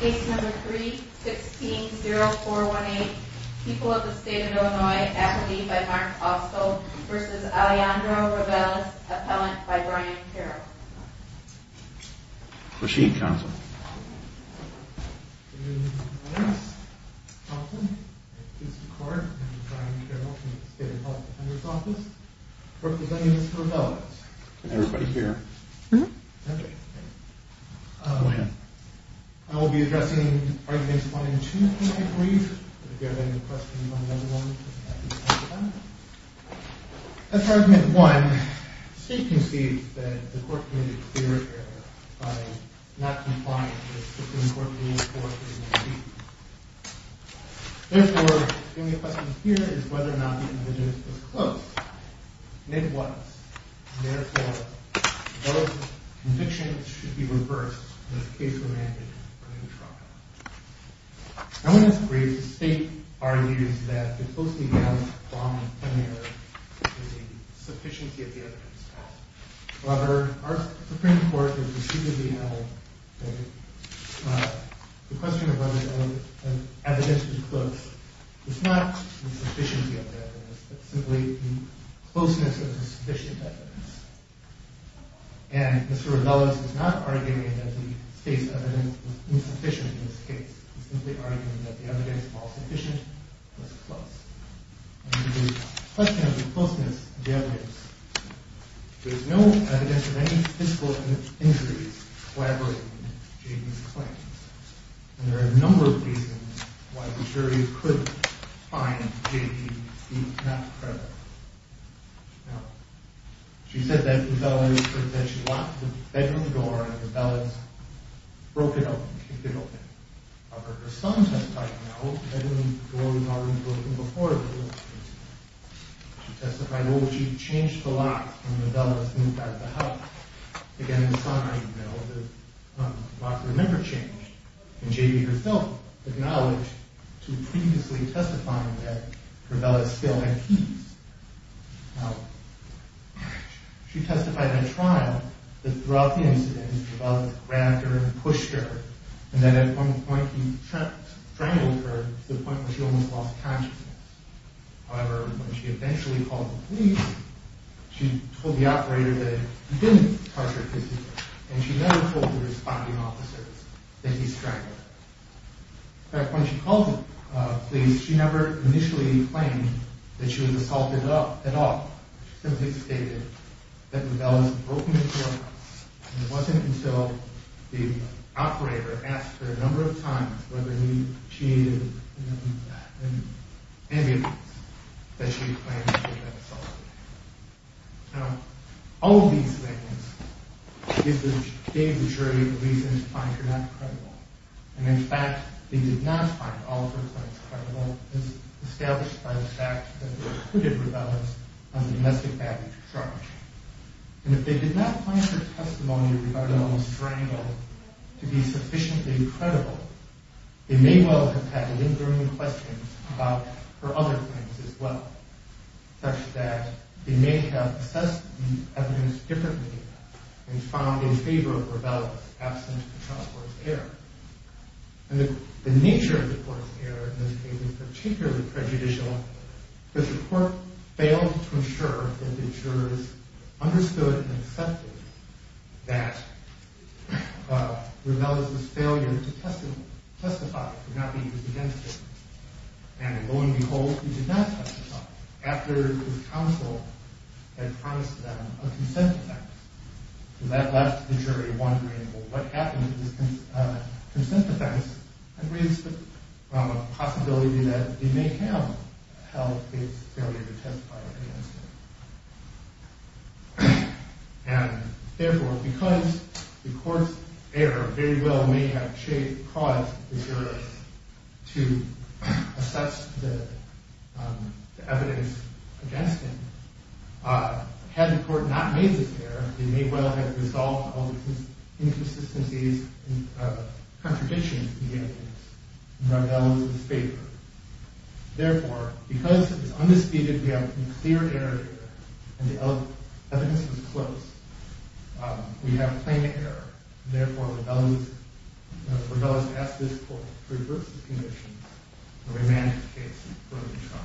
Case number 3-16-0418. People of the State of Illinois. Affidavit by Mark Austell v. Alejandro Reveles. Appellant by Brian Carroll. Proceed, counsel. Your Honor, counsel. I have a piece of court. I'm Brian Carroll from the State Appellant Defender's Office. Representing Mr. Reveles. Can everybody hear? Mm-hmm. Okay. Go ahead. I will be addressing Arguments 1 and 2, if you may agree. If you have any questions on those ones, please ask them. As for Argument 1, the State concedes that the Court committed clear error by not complying with Supreme Court Rule 4-3-19. Therefore, the only question here is whether or not the individual was close. And it was. Therefore, those convictions should be reversed in the case of a man in criminal trial. I want to disagree. The State argues that the posting of wrong and clear error is a sufficiency of the evidence. However, our Supreme Court has decidedly held that the question of whether evidence is close is not a sufficiency of the evidence. It's simply the closeness of the sufficient evidence. And Mr. Reveles is not arguing that the State's evidence was insufficient in this case. He's simply arguing that the evidence was sufficient and was close. And the question of the closeness of the evidence, there's no evidence of any physical injuries collaborating with J.P.'s claims. And there are a number of reasons why the jury could find J.P. not credible. Now, she said that she locked the bedroom door and the bell had broken open. However, her son testified, no, the bedroom door was already broken before the incident. She testified, well, she changed the locks when Reveles moved out of the house. Again, her son, I know, his locks were never changed. And J.P. herself acknowledged to previously testifying that her bell had still had keys. Now, she testified at trial that throughout the incident, Reveles grabbed her and pushed her. And then at one point, he strangled her to the point where she almost lost consciousness. However, when she eventually called the police, she told the operator that he didn't touch her physically. And she never told the responding officers that he strangled her. In fact, when she called the police, she never initially claimed that she was assaulted at all. She simply stated that the bell was broken into her house. And it wasn't until the operator asked her a number of times whether she needed an ambulance that she claimed she had been assaulted. Now, all of these things gave the jury a reason to find her not credible. And in fact, they did not find all of her claims credible, as established by the fact that it included Reveles on domestic violence charges. And if they did not find her testimony regarding the strangle to be sufficiently credible, they may well have had lingering questions about her other claims as well, such that they may have assessed the evidence differently and found in favor of Reveles' absence to trial for his error. And the nature of the court's error in this case is particularly prejudicial. The court failed to ensure that the jurors understood and accepted that Reveles' failure to testify could not be used against him. And lo and behold, he did not testify after his counsel had promised them a consent defense. So that left the jury wondering, well, what happened to this consent defense? And raised the possibility that they may have held his failure to testify against him. And therefore, because the court's error very well may have caused the jurors to assess the evidence against him, had the court not made this error, it may well have resolved all of his inconsistencies and contradictions against Reveles' failure. Therefore, because it is undisputed that we have a clear error here, and the evidence is close, we have plain error. Therefore, Reveles asked this court to reverse the conditions and remand the case for a new trial.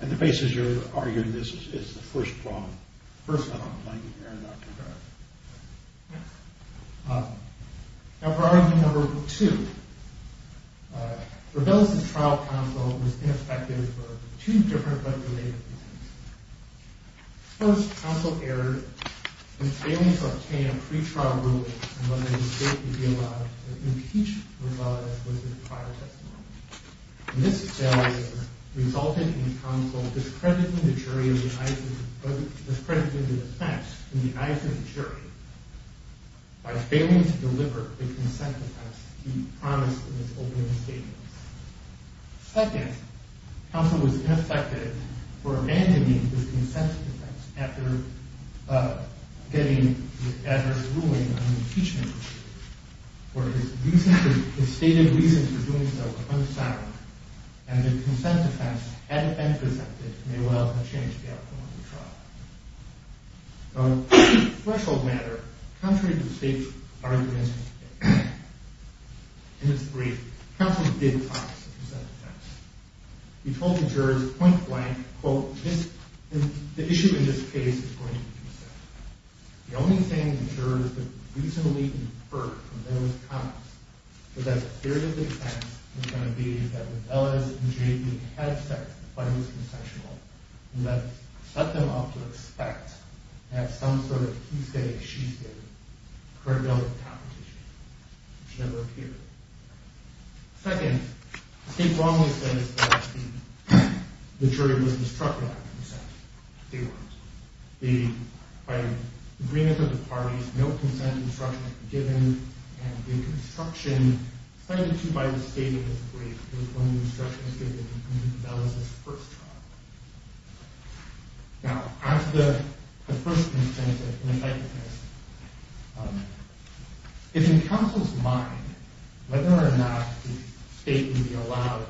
And the basis you're arguing this is the first problem? The first problem. Now for argument number two, Reveles' trial counsel was ineffective for two different but related reasons. First, counsel erred in failing to obtain a pretrial ruling on whether the state would be allowed to impeach Reveles with his prior testimony. And this failure resulted in counsel discrediting the defense in the eyes of the jury by failing to deliver the consent defense he promised in his opening statements. Second, counsel was ineffective for abandoning his consent defense after getting the adverse ruling on impeachment, where his stated reason for doing so was unsound, and the consent defense, had it been presented, may well have changed the outcome of the trial. On a threshold matter, contrary to the state's argument in its brief, counsel did promise a consent defense. He told the jurors point blank, quote, the issue in this case is going to be consent. The only thing the jurors could reasonably infer from those comments was that the theory of the defense was going to be that Reveles and Jayden had sex before he was consensual, and that set them off to expect at some sort of he-say-she-said credibility competition, which never appeared. Second, the state wrongly says that the jury was destructive after consent. By agreement of the parties, no consent instruction was given, and the instruction cited to by the state in this brief was one of the instructions given to Reveles' first trial. Now, as to the first consent defense, it's in counsel's mind whether or not the state would be allowed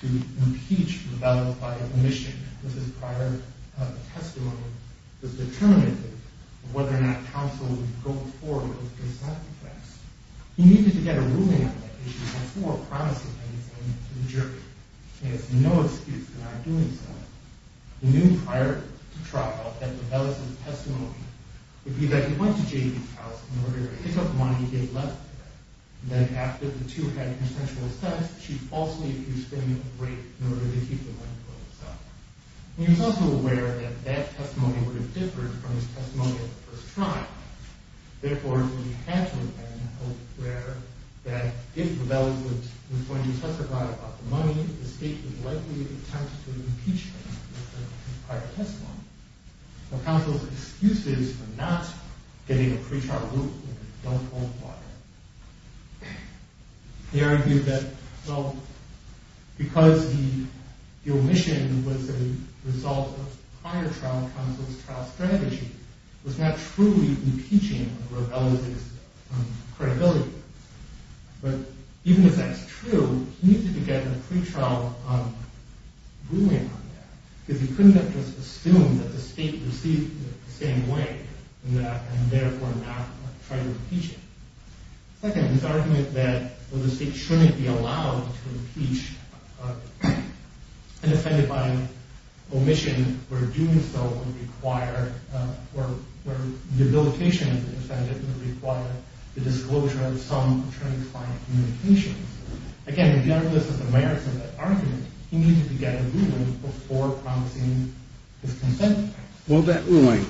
to impeach Reveles by omission, because his prior testimony was determinative of whether or not counsel would go forward with the consent defense. He needed to get a ruling on that issue before promising anything to the jury. He has no excuse for not doing so. He knew prior to trial that Reveles' testimony would be that he went to Jayden's house in order to pick up money he had left there, and that after the two had a consensual sex, she falsely accused him of rape in order to keep the money for himself. He was also aware that that testimony would have differed from his testimony at the first trial. Therefore, he had to have been aware that if Reveles was going to testify about the money, the state was likely to attempt to impeach him with the prior testimony. So counsel's excuses for not getting a pretrial ruling don't qualify. He argued that, well, because the omission was a result of prior trial counsel's trial strategy, it was not truly impeaching of Reveles' credibility. But even if that's true, he needed to get a pretrial ruling on that, because he couldn't have just assumed that the state received it the same way and therefore not try to impeach him. Second, his argument that the state shouldn't be allowed to impeach an offender by omission where the debilitation of the offender would require the disclosure of some transparent communications. Again, regardless of the merits of that argument, he needed to get a ruling before promising his consent. Well, that ruling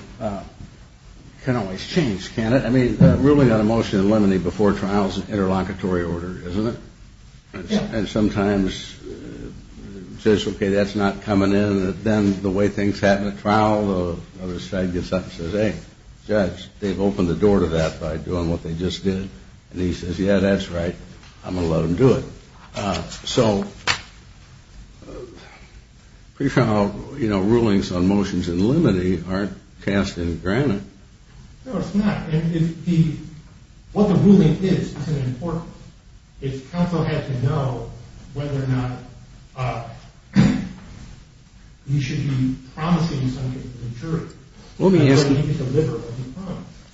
can always change, can't it? I mean, ruling on a motion in limine before trial is an interlocutory order, isn't it? And sometimes it says, okay, that's not coming in. Then the way things happen at trial, the other side gets up and says, hey, judge, they've opened the door to that by doing what they just did. And he says, yeah, that's right. I'm going to let them do it. So pre-trial rulings on motions in limine aren't cast in granite. No, it's not. And what the ruling is, it's an important one. It's counsel has to know whether or not he should be promising something to the jury. Let me ask you,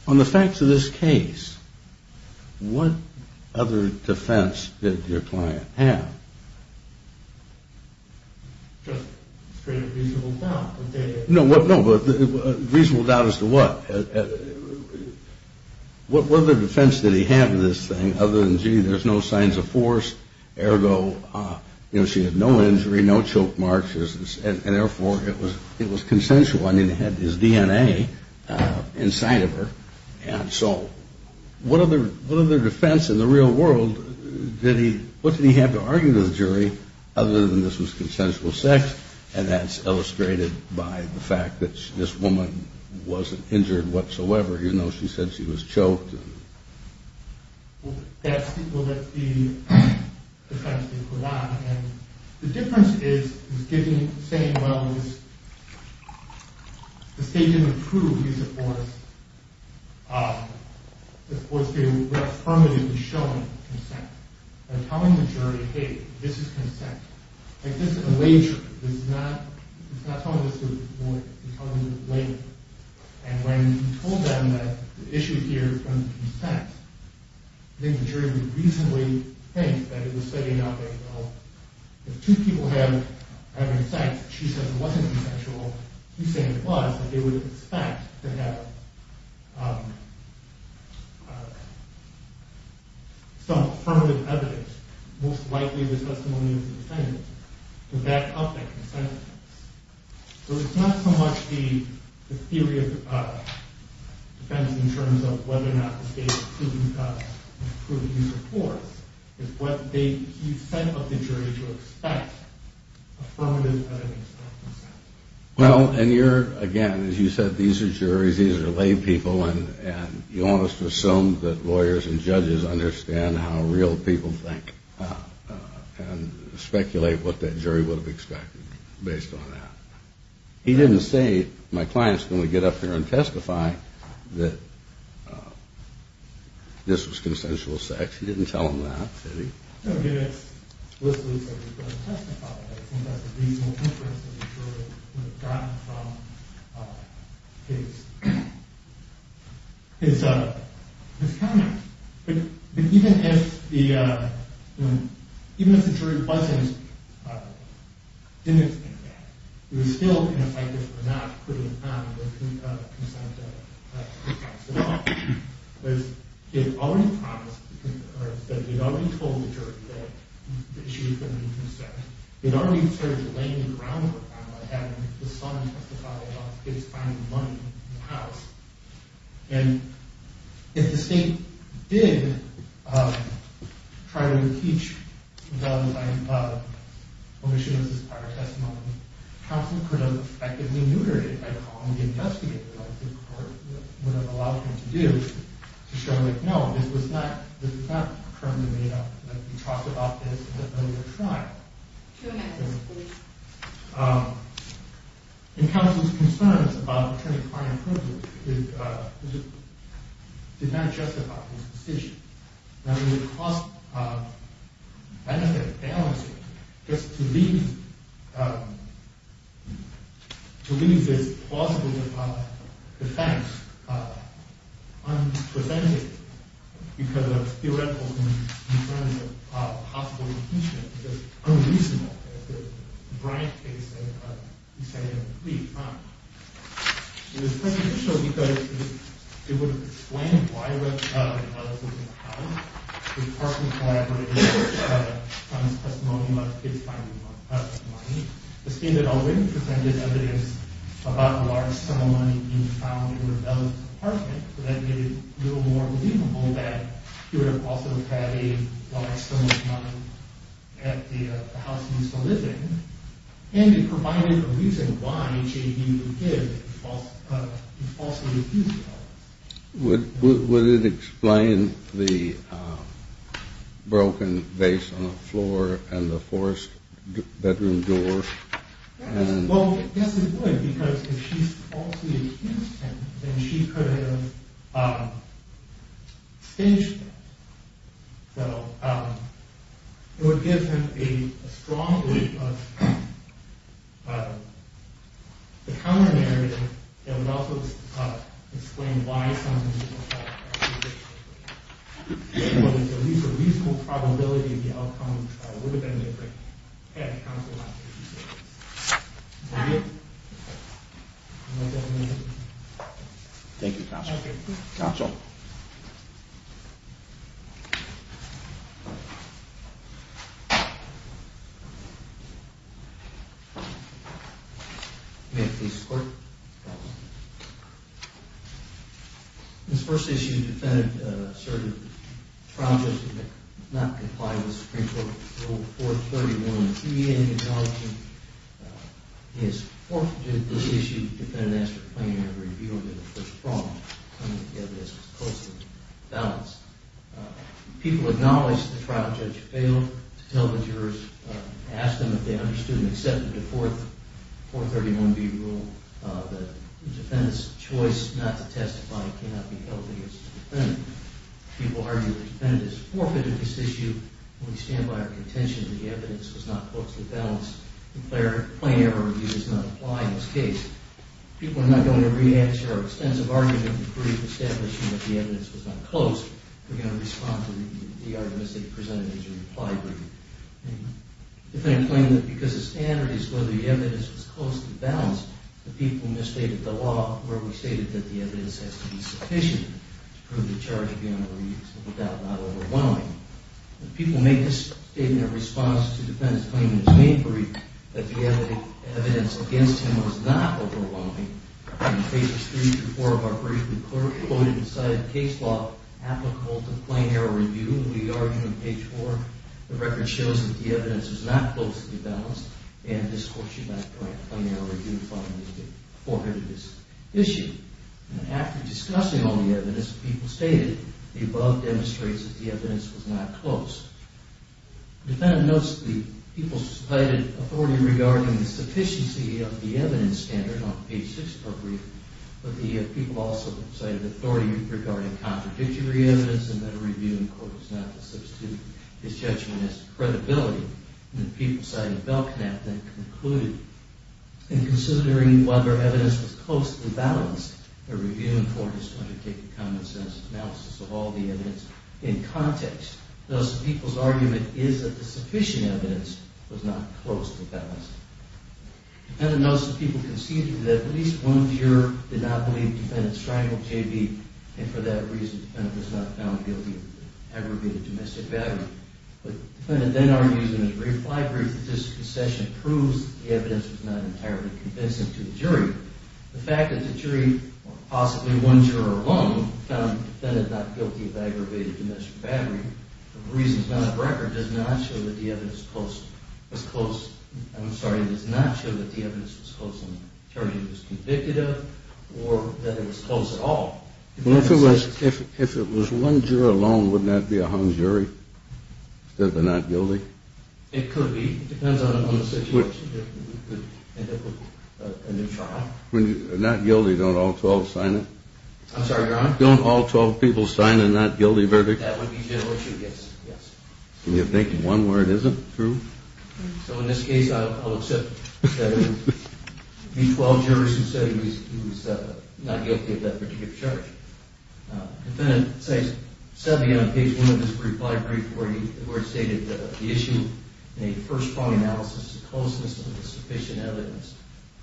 on the facts of this case, what other defense did your client have? Just a reasonable doubt. No, but a reasonable doubt as to what? What other defense did he have of this thing other than, gee, there's no signs of force, ergo, you know, she had no injury, no choke marks, and therefore it was consensual. I mean, it had his DNA inside of her. And so what other defense in the real world did he have to argue to the jury other than this was consensual sex? And that's illustrated by the fact that this woman wasn't injured whatsoever. You know, she said she was choked. Well, that's the defense that he put on. And the difference is he's saying, well, the state didn't approve. He's, of course, affirmatively showing consent. They're telling the jury, hey, this is consent. Like, this is a wager. He's not telling this to the jury. He's telling them it's a wager. And when he told them that the issue here is on consent, I think the jury would reasonably think that he was saying, well, if two people have consent, she says it wasn't consensual. He's saying it was, but they would expect to have some affirmative evidence, most likely the testimony of the defendant, to back up that consent. So it's not so much the theory of defense in terms of whether or not the state approved these reports. It's what he sent of the jury to expect affirmative evidence of consent. Well, and you're, again, as you said, these are juries, these are laypeople, and you ought to assume that lawyers and judges understand how real people think and speculate what that jury would have expected based on that. He didn't say, my client's going to get up here and testify that this was consensual sex. He didn't tell them that, did he? No, he didn't explicitly say he was going to testify. I think that's a reasonable inference that the jury would have gotten from his comment. But even if the jury didn't think that, it was still an effect of not putting on consent at all. Because he had already promised, or he had already told the jury that she was going to be consented. He had already started laying the groundwork on what happened if the son testified about his finding money in the house. And if the state did try to impeach them by omission of this prior testimony, counsel could have effectively neutered it by calling the investigator, like the court would have allowed him to do, to show that, no, this was not currently made up, that he talked about this in an earlier trial. And counsel's concerns about attorney-client privilege did not justify his decision. Now, the cost-benefit balance, just to leave this plausible defense unpresented because of theoretical concerns of possible impeachment is unreasonable. It's a bright case that he said he had to leave. It was preconditional because it would have explained why the mother was in the house. It partly collaborated with the son's testimony about his finding of money. The state had already presented evidence about a large sum of money being found in her mother's apartment. So that made it a little more believable that he would have also had a large sum of money at the house he was living. And it provided a reason why J.D. would give the falsely accused evidence. Would it explain the broken vase on the floor and the forced bedroom door? Well, yes, it would because if she falsely accused him, then she could have extinguished that. So it would give him a strong belief of the common narrative. It would also explain why some people thought that J.D. was guilty. But at least a reasonable probability of the outcome of the trial would have been different had counsel not refused it. Thank you. Thank you, counsel. Counsel. May I please support? This first issue defended the assertion that the trial judge did not comply with Supreme Court Rule 431B, acknowledging his forfeiture. This issue defended an extra plenary review of the first problem coming together as a cohesive balance. People acknowledged the trial judge failed to tell the jurors, asked them if they understood and accepted the 431B rule, that the defendant's choice not to testify cannot be held against the defendant. People argue the defendant has forfeited this issue. We stand by our contention that the evidence was not closely balanced. The plenary review does not apply in this case. People are not going to re-answer our extensive argument and prove the establishment that the evidence was not close. We're going to respond to the arguments that you presented as you replied. Thank you. The defendant claimed that because the standard is whether the evidence was close to the balance, the people misstated the law where we stated that the evidence has to be sufficient to prove the charge beyond a reasonable doubt not overwhelming. The people make this statement in response to the defendant's claim in his main brief that the evidence against him was not overwhelming. In Pages 3-4 of our briefing, the clerk quoted and cited a case law applicable to plenary review. We argue in Page 4, the record shows that the evidence was not closely balanced and this court should not grant plenary review if it forfeited this issue. After discussing all the evidence, the people stated, the above demonstrates that the evidence was not close. The defendant notes the people cited authority regarding the sufficiency of the evidence standard as mentioned on Page 6 of our briefing. But the people also cited authority regarding contradictory evidence and that a review in court is not to substitute his judgment as to credibility. The people cited Belknap then concluded, in considering whether evidence was closely balanced, a review in court is going to take the common sense analysis of all the evidence in context. Thus, the people's argument is that the sufficient evidence was not closely balanced. The defendant notes the people conceded that at least one juror did not believe the defendant strangled J.B. and for that reason the defendant was not found guilty of aggravated domestic battery. The defendant then argues in his brief, my brief, that this concession proves the evidence was not entirely convincing to the jury. The fact that the jury, or possibly one juror alone, found the defendant not guilty of aggravated domestic battery, for reasons not on record, does not show that the evidence was close. I'm sorry, does not show that the evidence was close on the jury it was convicted of or that it was close at all. Well, if it was one juror alone, wouldn't that be a hung jury? That they're not guilty? It could be. It depends on the situation. It could end up with a new trial. When you're not guilty, don't all 12 sign it? I'm sorry, Your Honor? Don't all 12 people sign a not guilty verdict? That would be generally true, yes. Can you think of one where it isn't true? So in this case, I'll accept that it would be 12 jurors who said he was not guilty of that particular charge. Defendant says, sadly, on page 1 of his brief, my brief, where it stated the issue in a first-prong analysis is the closeness of insufficient evidence.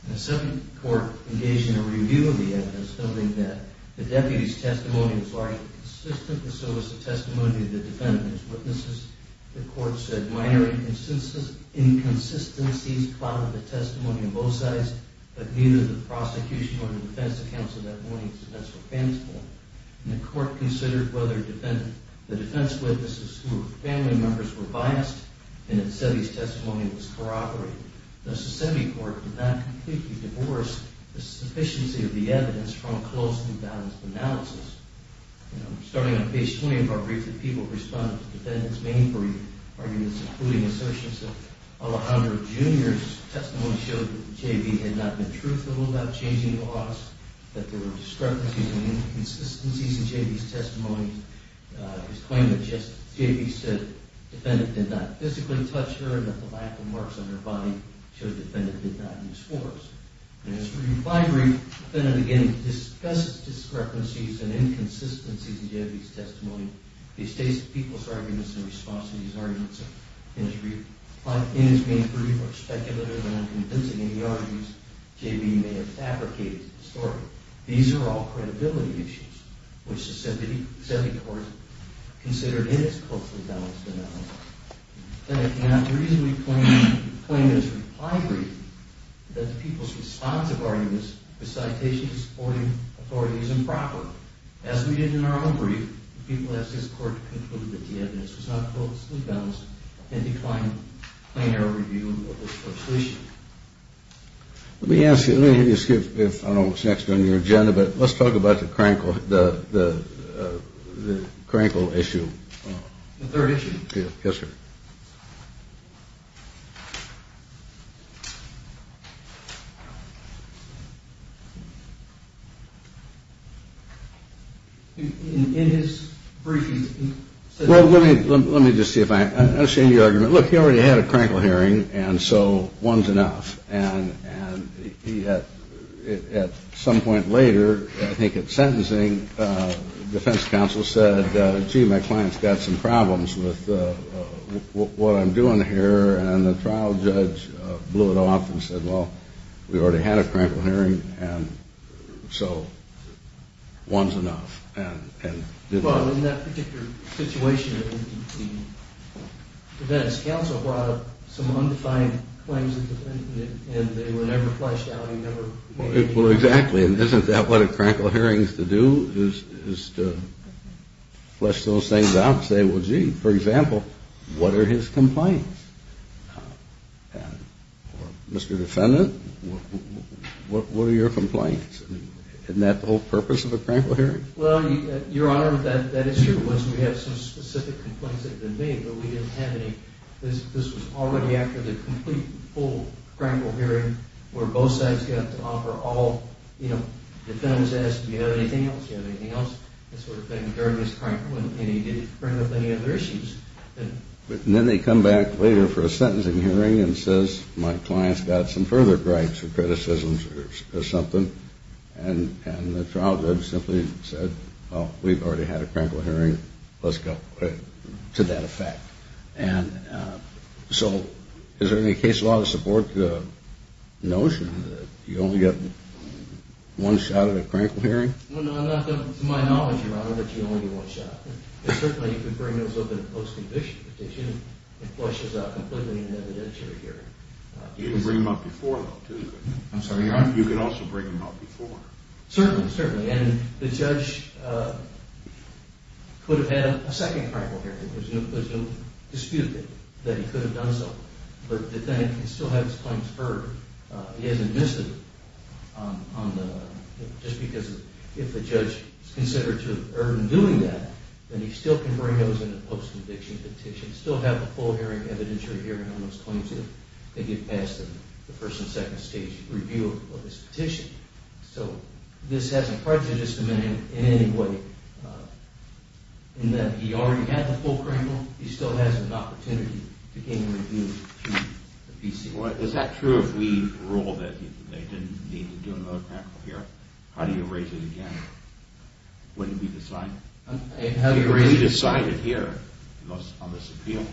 And the second court engaged in a review of the evidence, noting that the deputy's testimony was largely consistent and so was the testimony of the defendant and his witnesses. The court said minor inconsistencies clouded the testimony on both sides, but neither the prosecution nor the defense counsel that morning's defense were fanciful. And the court considered whether the defense witnesses who were family members were biased, and it said his testimony was corroborated. Thus, the semi-court did not completely divorce the sufficiency of the evidence from a close and balanced analysis. Starting on page 20 of our brief, the people responded to the defendant's main brief arguments, including assertions that Alejandro Jr.'s testimony showed that J.B. had not been truthful about changing the laws, that there were discrepancies and inconsistencies in J.B.'s testimony. His claim that J.B. said the defendant did not physically touch her and that the lack of marks on her body showed the defendant did not use force. And as for your final brief, the defendant again discussed discrepancies and inconsistencies in J.B.'s testimony. He states the people's arguments in response to these arguments in his brief, but in his main brief are speculative and unconvincing, and the arguments J.B. may have fabricated historically. These are all credibility issues, which the semi-court considered in its closely balanced analysis. I cannot reasonably claim as a replied reason that the people's response of arguments to supporting authority is improper. As we did in our own brief, the people asked this court to conclude that the evidence was not closely balanced and declined plain error review of the solution. Let me ask you, I don't know what's next on your agenda, but let's talk about the Krenkel issue. The third issue. Yes, sir. Well, let me just see if I understand your argument. Look, he already had a Krenkel hearing, and so one's enough. And at some point later, I think at sentencing, defense counsel said, gee, my client's got some problems with what I'm doing here. And the trial judge blew it off and said, well, we already had a Krenkel hearing. And so one's enough. Well, in that particular situation, the defense counsel brought up some undefined claims of defendant, and they were never fleshed out. Well, exactly. And isn't that what a Krenkel hearing is to do, is to flesh those things out and say, well, gee, for example, what are his complaints? Or, Mr. Defendant, what are your complaints? Isn't that the whole purpose of a Krenkel hearing? Well, Your Honor, that issue was we have some specific complaints that have been made, but we didn't have any. This was already after the complete, full Krenkel hearing where both sides got to offer all, you know, the defendant was asked, do you have anything else? Do you have anything else? That sort of thing during his Krenkel, and he didn't bring up any other issues. And then they come back later for a sentencing hearing and says, my client's got some further gripes or criticisms or something, and the trial judge simply said, well, we've already had a Krenkel hearing. Let's go to that effect. And so is there any case law to support the notion that you only get one shot at a Krenkel hearing? No, not to my knowledge, Your Honor, that you only get one shot. And certainly you could bring those up in a post-conviction petition. It flushes out completely in an evidentiary hearing. You can bring them up before, though, too. I'm sorry, Your Honor? You could also bring them up before. Certainly, certainly. And the judge could have had a second Krenkel hearing. There's no dispute that he could have done so. But the defendant can still have his claims heard. He hasn't missed them. Just because if the judge is considered to have erred in doing that, then he still can bring those in a post-conviction petition, still have a full hearing evidentiary hearing on those claims if they get past the first and second stage review of his petition. So this has no prejudice to men in any way in that he already had the full Krenkel. He still has an opportunity to gain a review through the PC. Is that true if we rule that he didn't need to do another Krenkel hearing? How do you raise it again? Wouldn't it be decided? Would it be decided here on this appeal?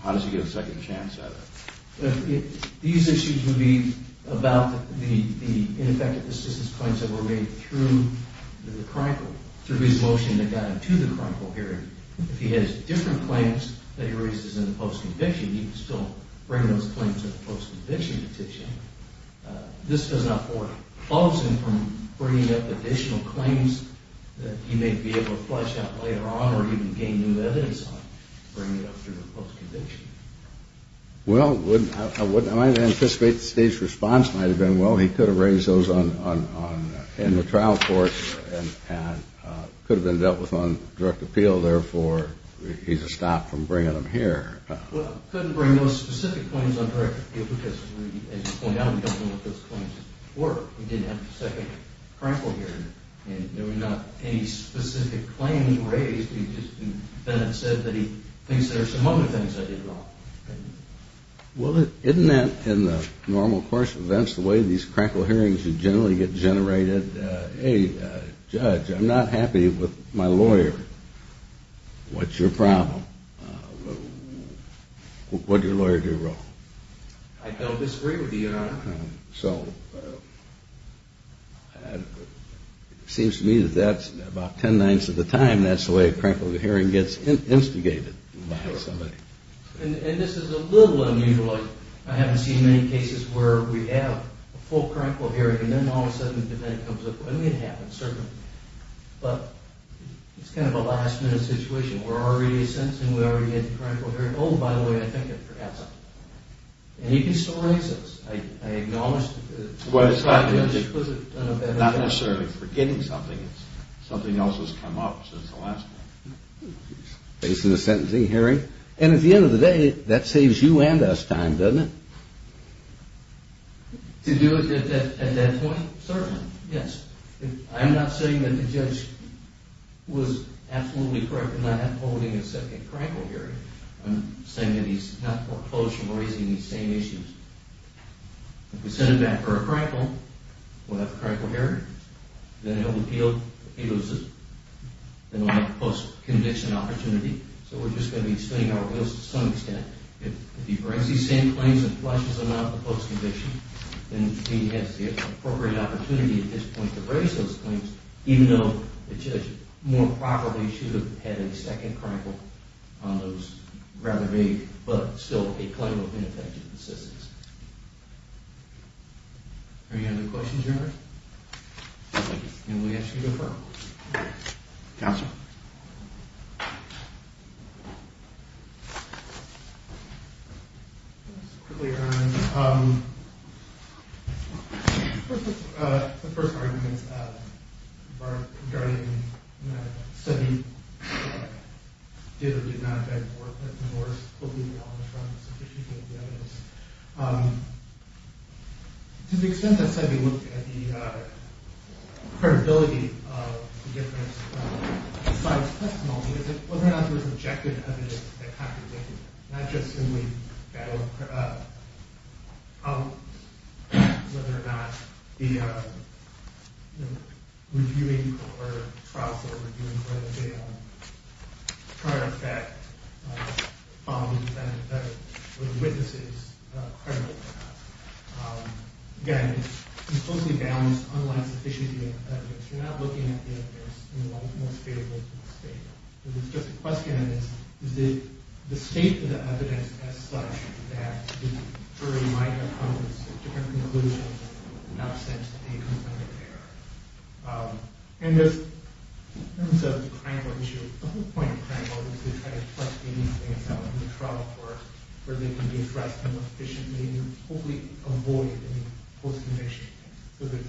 How does he get a second chance at it? These issues would be about the ineffective assistance claims that were made through the Krenkel, through his motion that got him to the Krenkel hearing. If he has different claims that he raises in the post-conviction, he can still bring those claims to the post-conviction petition. This does not force him from bringing up additional claims that he may be able to flush out later on or even gain new evidence on and bring it up through the post-conviction. Well, I would anticipate the State's response might have been, well, he could have raised those in the trial court and could have been dealt with on direct appeal, therefore he's stopped from bringing them here. Well, he couldn't bring those specific claims on direct appeal because, as you point out, we don't know what those claims were. He didn't have a second Krenkel hearing. There were not any specific claims raised. He just said that he thinks there are some other things that he brought. Well, isn't that, in the normal course of events, the way these Krenkel hearings generally get generated, he said, hey, Judge, I'm not happy with my lawyer. What's your problem? What did your lawyer do wrong? I don't disagree with you, Your Honor. So it seems to me that that's about ten-ninths of the time that's the way a Krenkel hearing gets instigated by somebody. And this is a little unusual. I haven't seen many cases where we have a full Krenkel hearing and then all of a sudden the defendant comes up. I mean, it happens, certainly. But it's kind of a last-minute situation. We're already sentencing, we already had the Krenkel hearing. Oh, by the way, I think I forgot something. And he can still raise it. I acknowledge the fact that it's not necessarily forgetting something. It's something else that's come up since the last one. Facing a sentencing hearing. And at the end of the day, that saves you and us time, doesn't it? To do it at that point? Certainly, yes. I'm not saying that the judge was absolutely correct in not holding a second Krenkel hearing. I'm saying that he's not opposed from raising these same issues. If we send him back for a Krenkel, we'll have a Krenkel hearing. Then he'll appeal. If he loses, then we'll have a post-conviction opportunity. So we're just going to be spinning our wheels to some extent. If he brings these same claims and flushes them out of the post-conviction, then he has the appropriate opportunity at this point to raise those claims, even though the judge more properly should have had a second Krenkel on those rather vague but still a claim of ineffective assistance. Are there any other questions, Your Honor? Thank you. And we ask that you defer. Counsel. Just quickly, Your Honor. First, the first argument regarding Sebi did or did not defend Moore's claim of insufficient evidence. To the extent that Sebi looked at the credibility of the different sides' testimony, whether or not there was objective evidence that contradicted it, not just simply whether or not the reviewing or trial court reviewing for the bail prior to that found that the witnesses credible enough. Again, he closely balanced unlined sufficiency of evidence. You're not looking at the evidence in the most favorable state. It's just a question of the state of the evidence as such that the jury might have come to a different conclusion in the absence of the defendant there. And there's a Krenkel issue. The whole point of Krenkel is to try to trust anything that's out in the trial court where they can be addressed in the most efficient way and hopefully avoid any post-conviction. So there's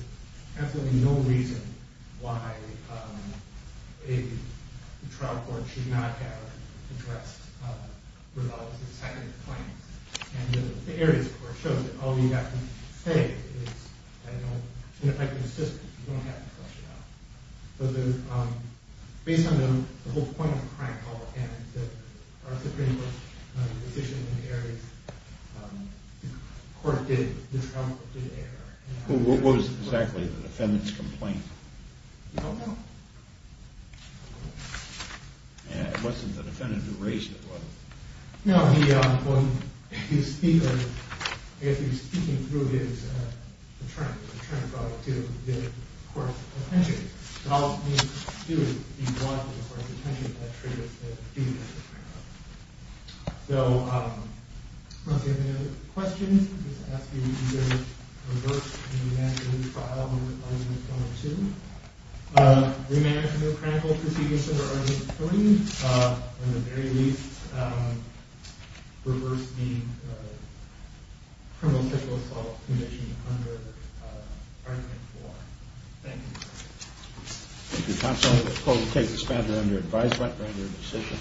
absolutely no reason why a trial court should not have addressed Revelle's consecutive claims. And the Ares Court shows that all you have to say is that if I can assist it, you don't have to question it. So based on the whole point of Krenkel and our Supreme Court position in the Ares Court, the trial court did err. What was exactly the defendant's complaint? I don't know. It wasn't the defendant who raised it, was it? No, when he was speaking through his attorney, the attorney brought it to the court's attention. So all it means to do is be brought to the court's attention if that triggers the duty of the Krenkel. So if you have any other questions, I'll just ask you to either reverse and re-manage the trial under Argument 1 or 2, re-manage the Krenkel proceedings under Argument 30, or in the very least, reverse the criminal sexual assault conviction under Argument 4. Thank you. If you'd like to take this matter under advisement or under decision.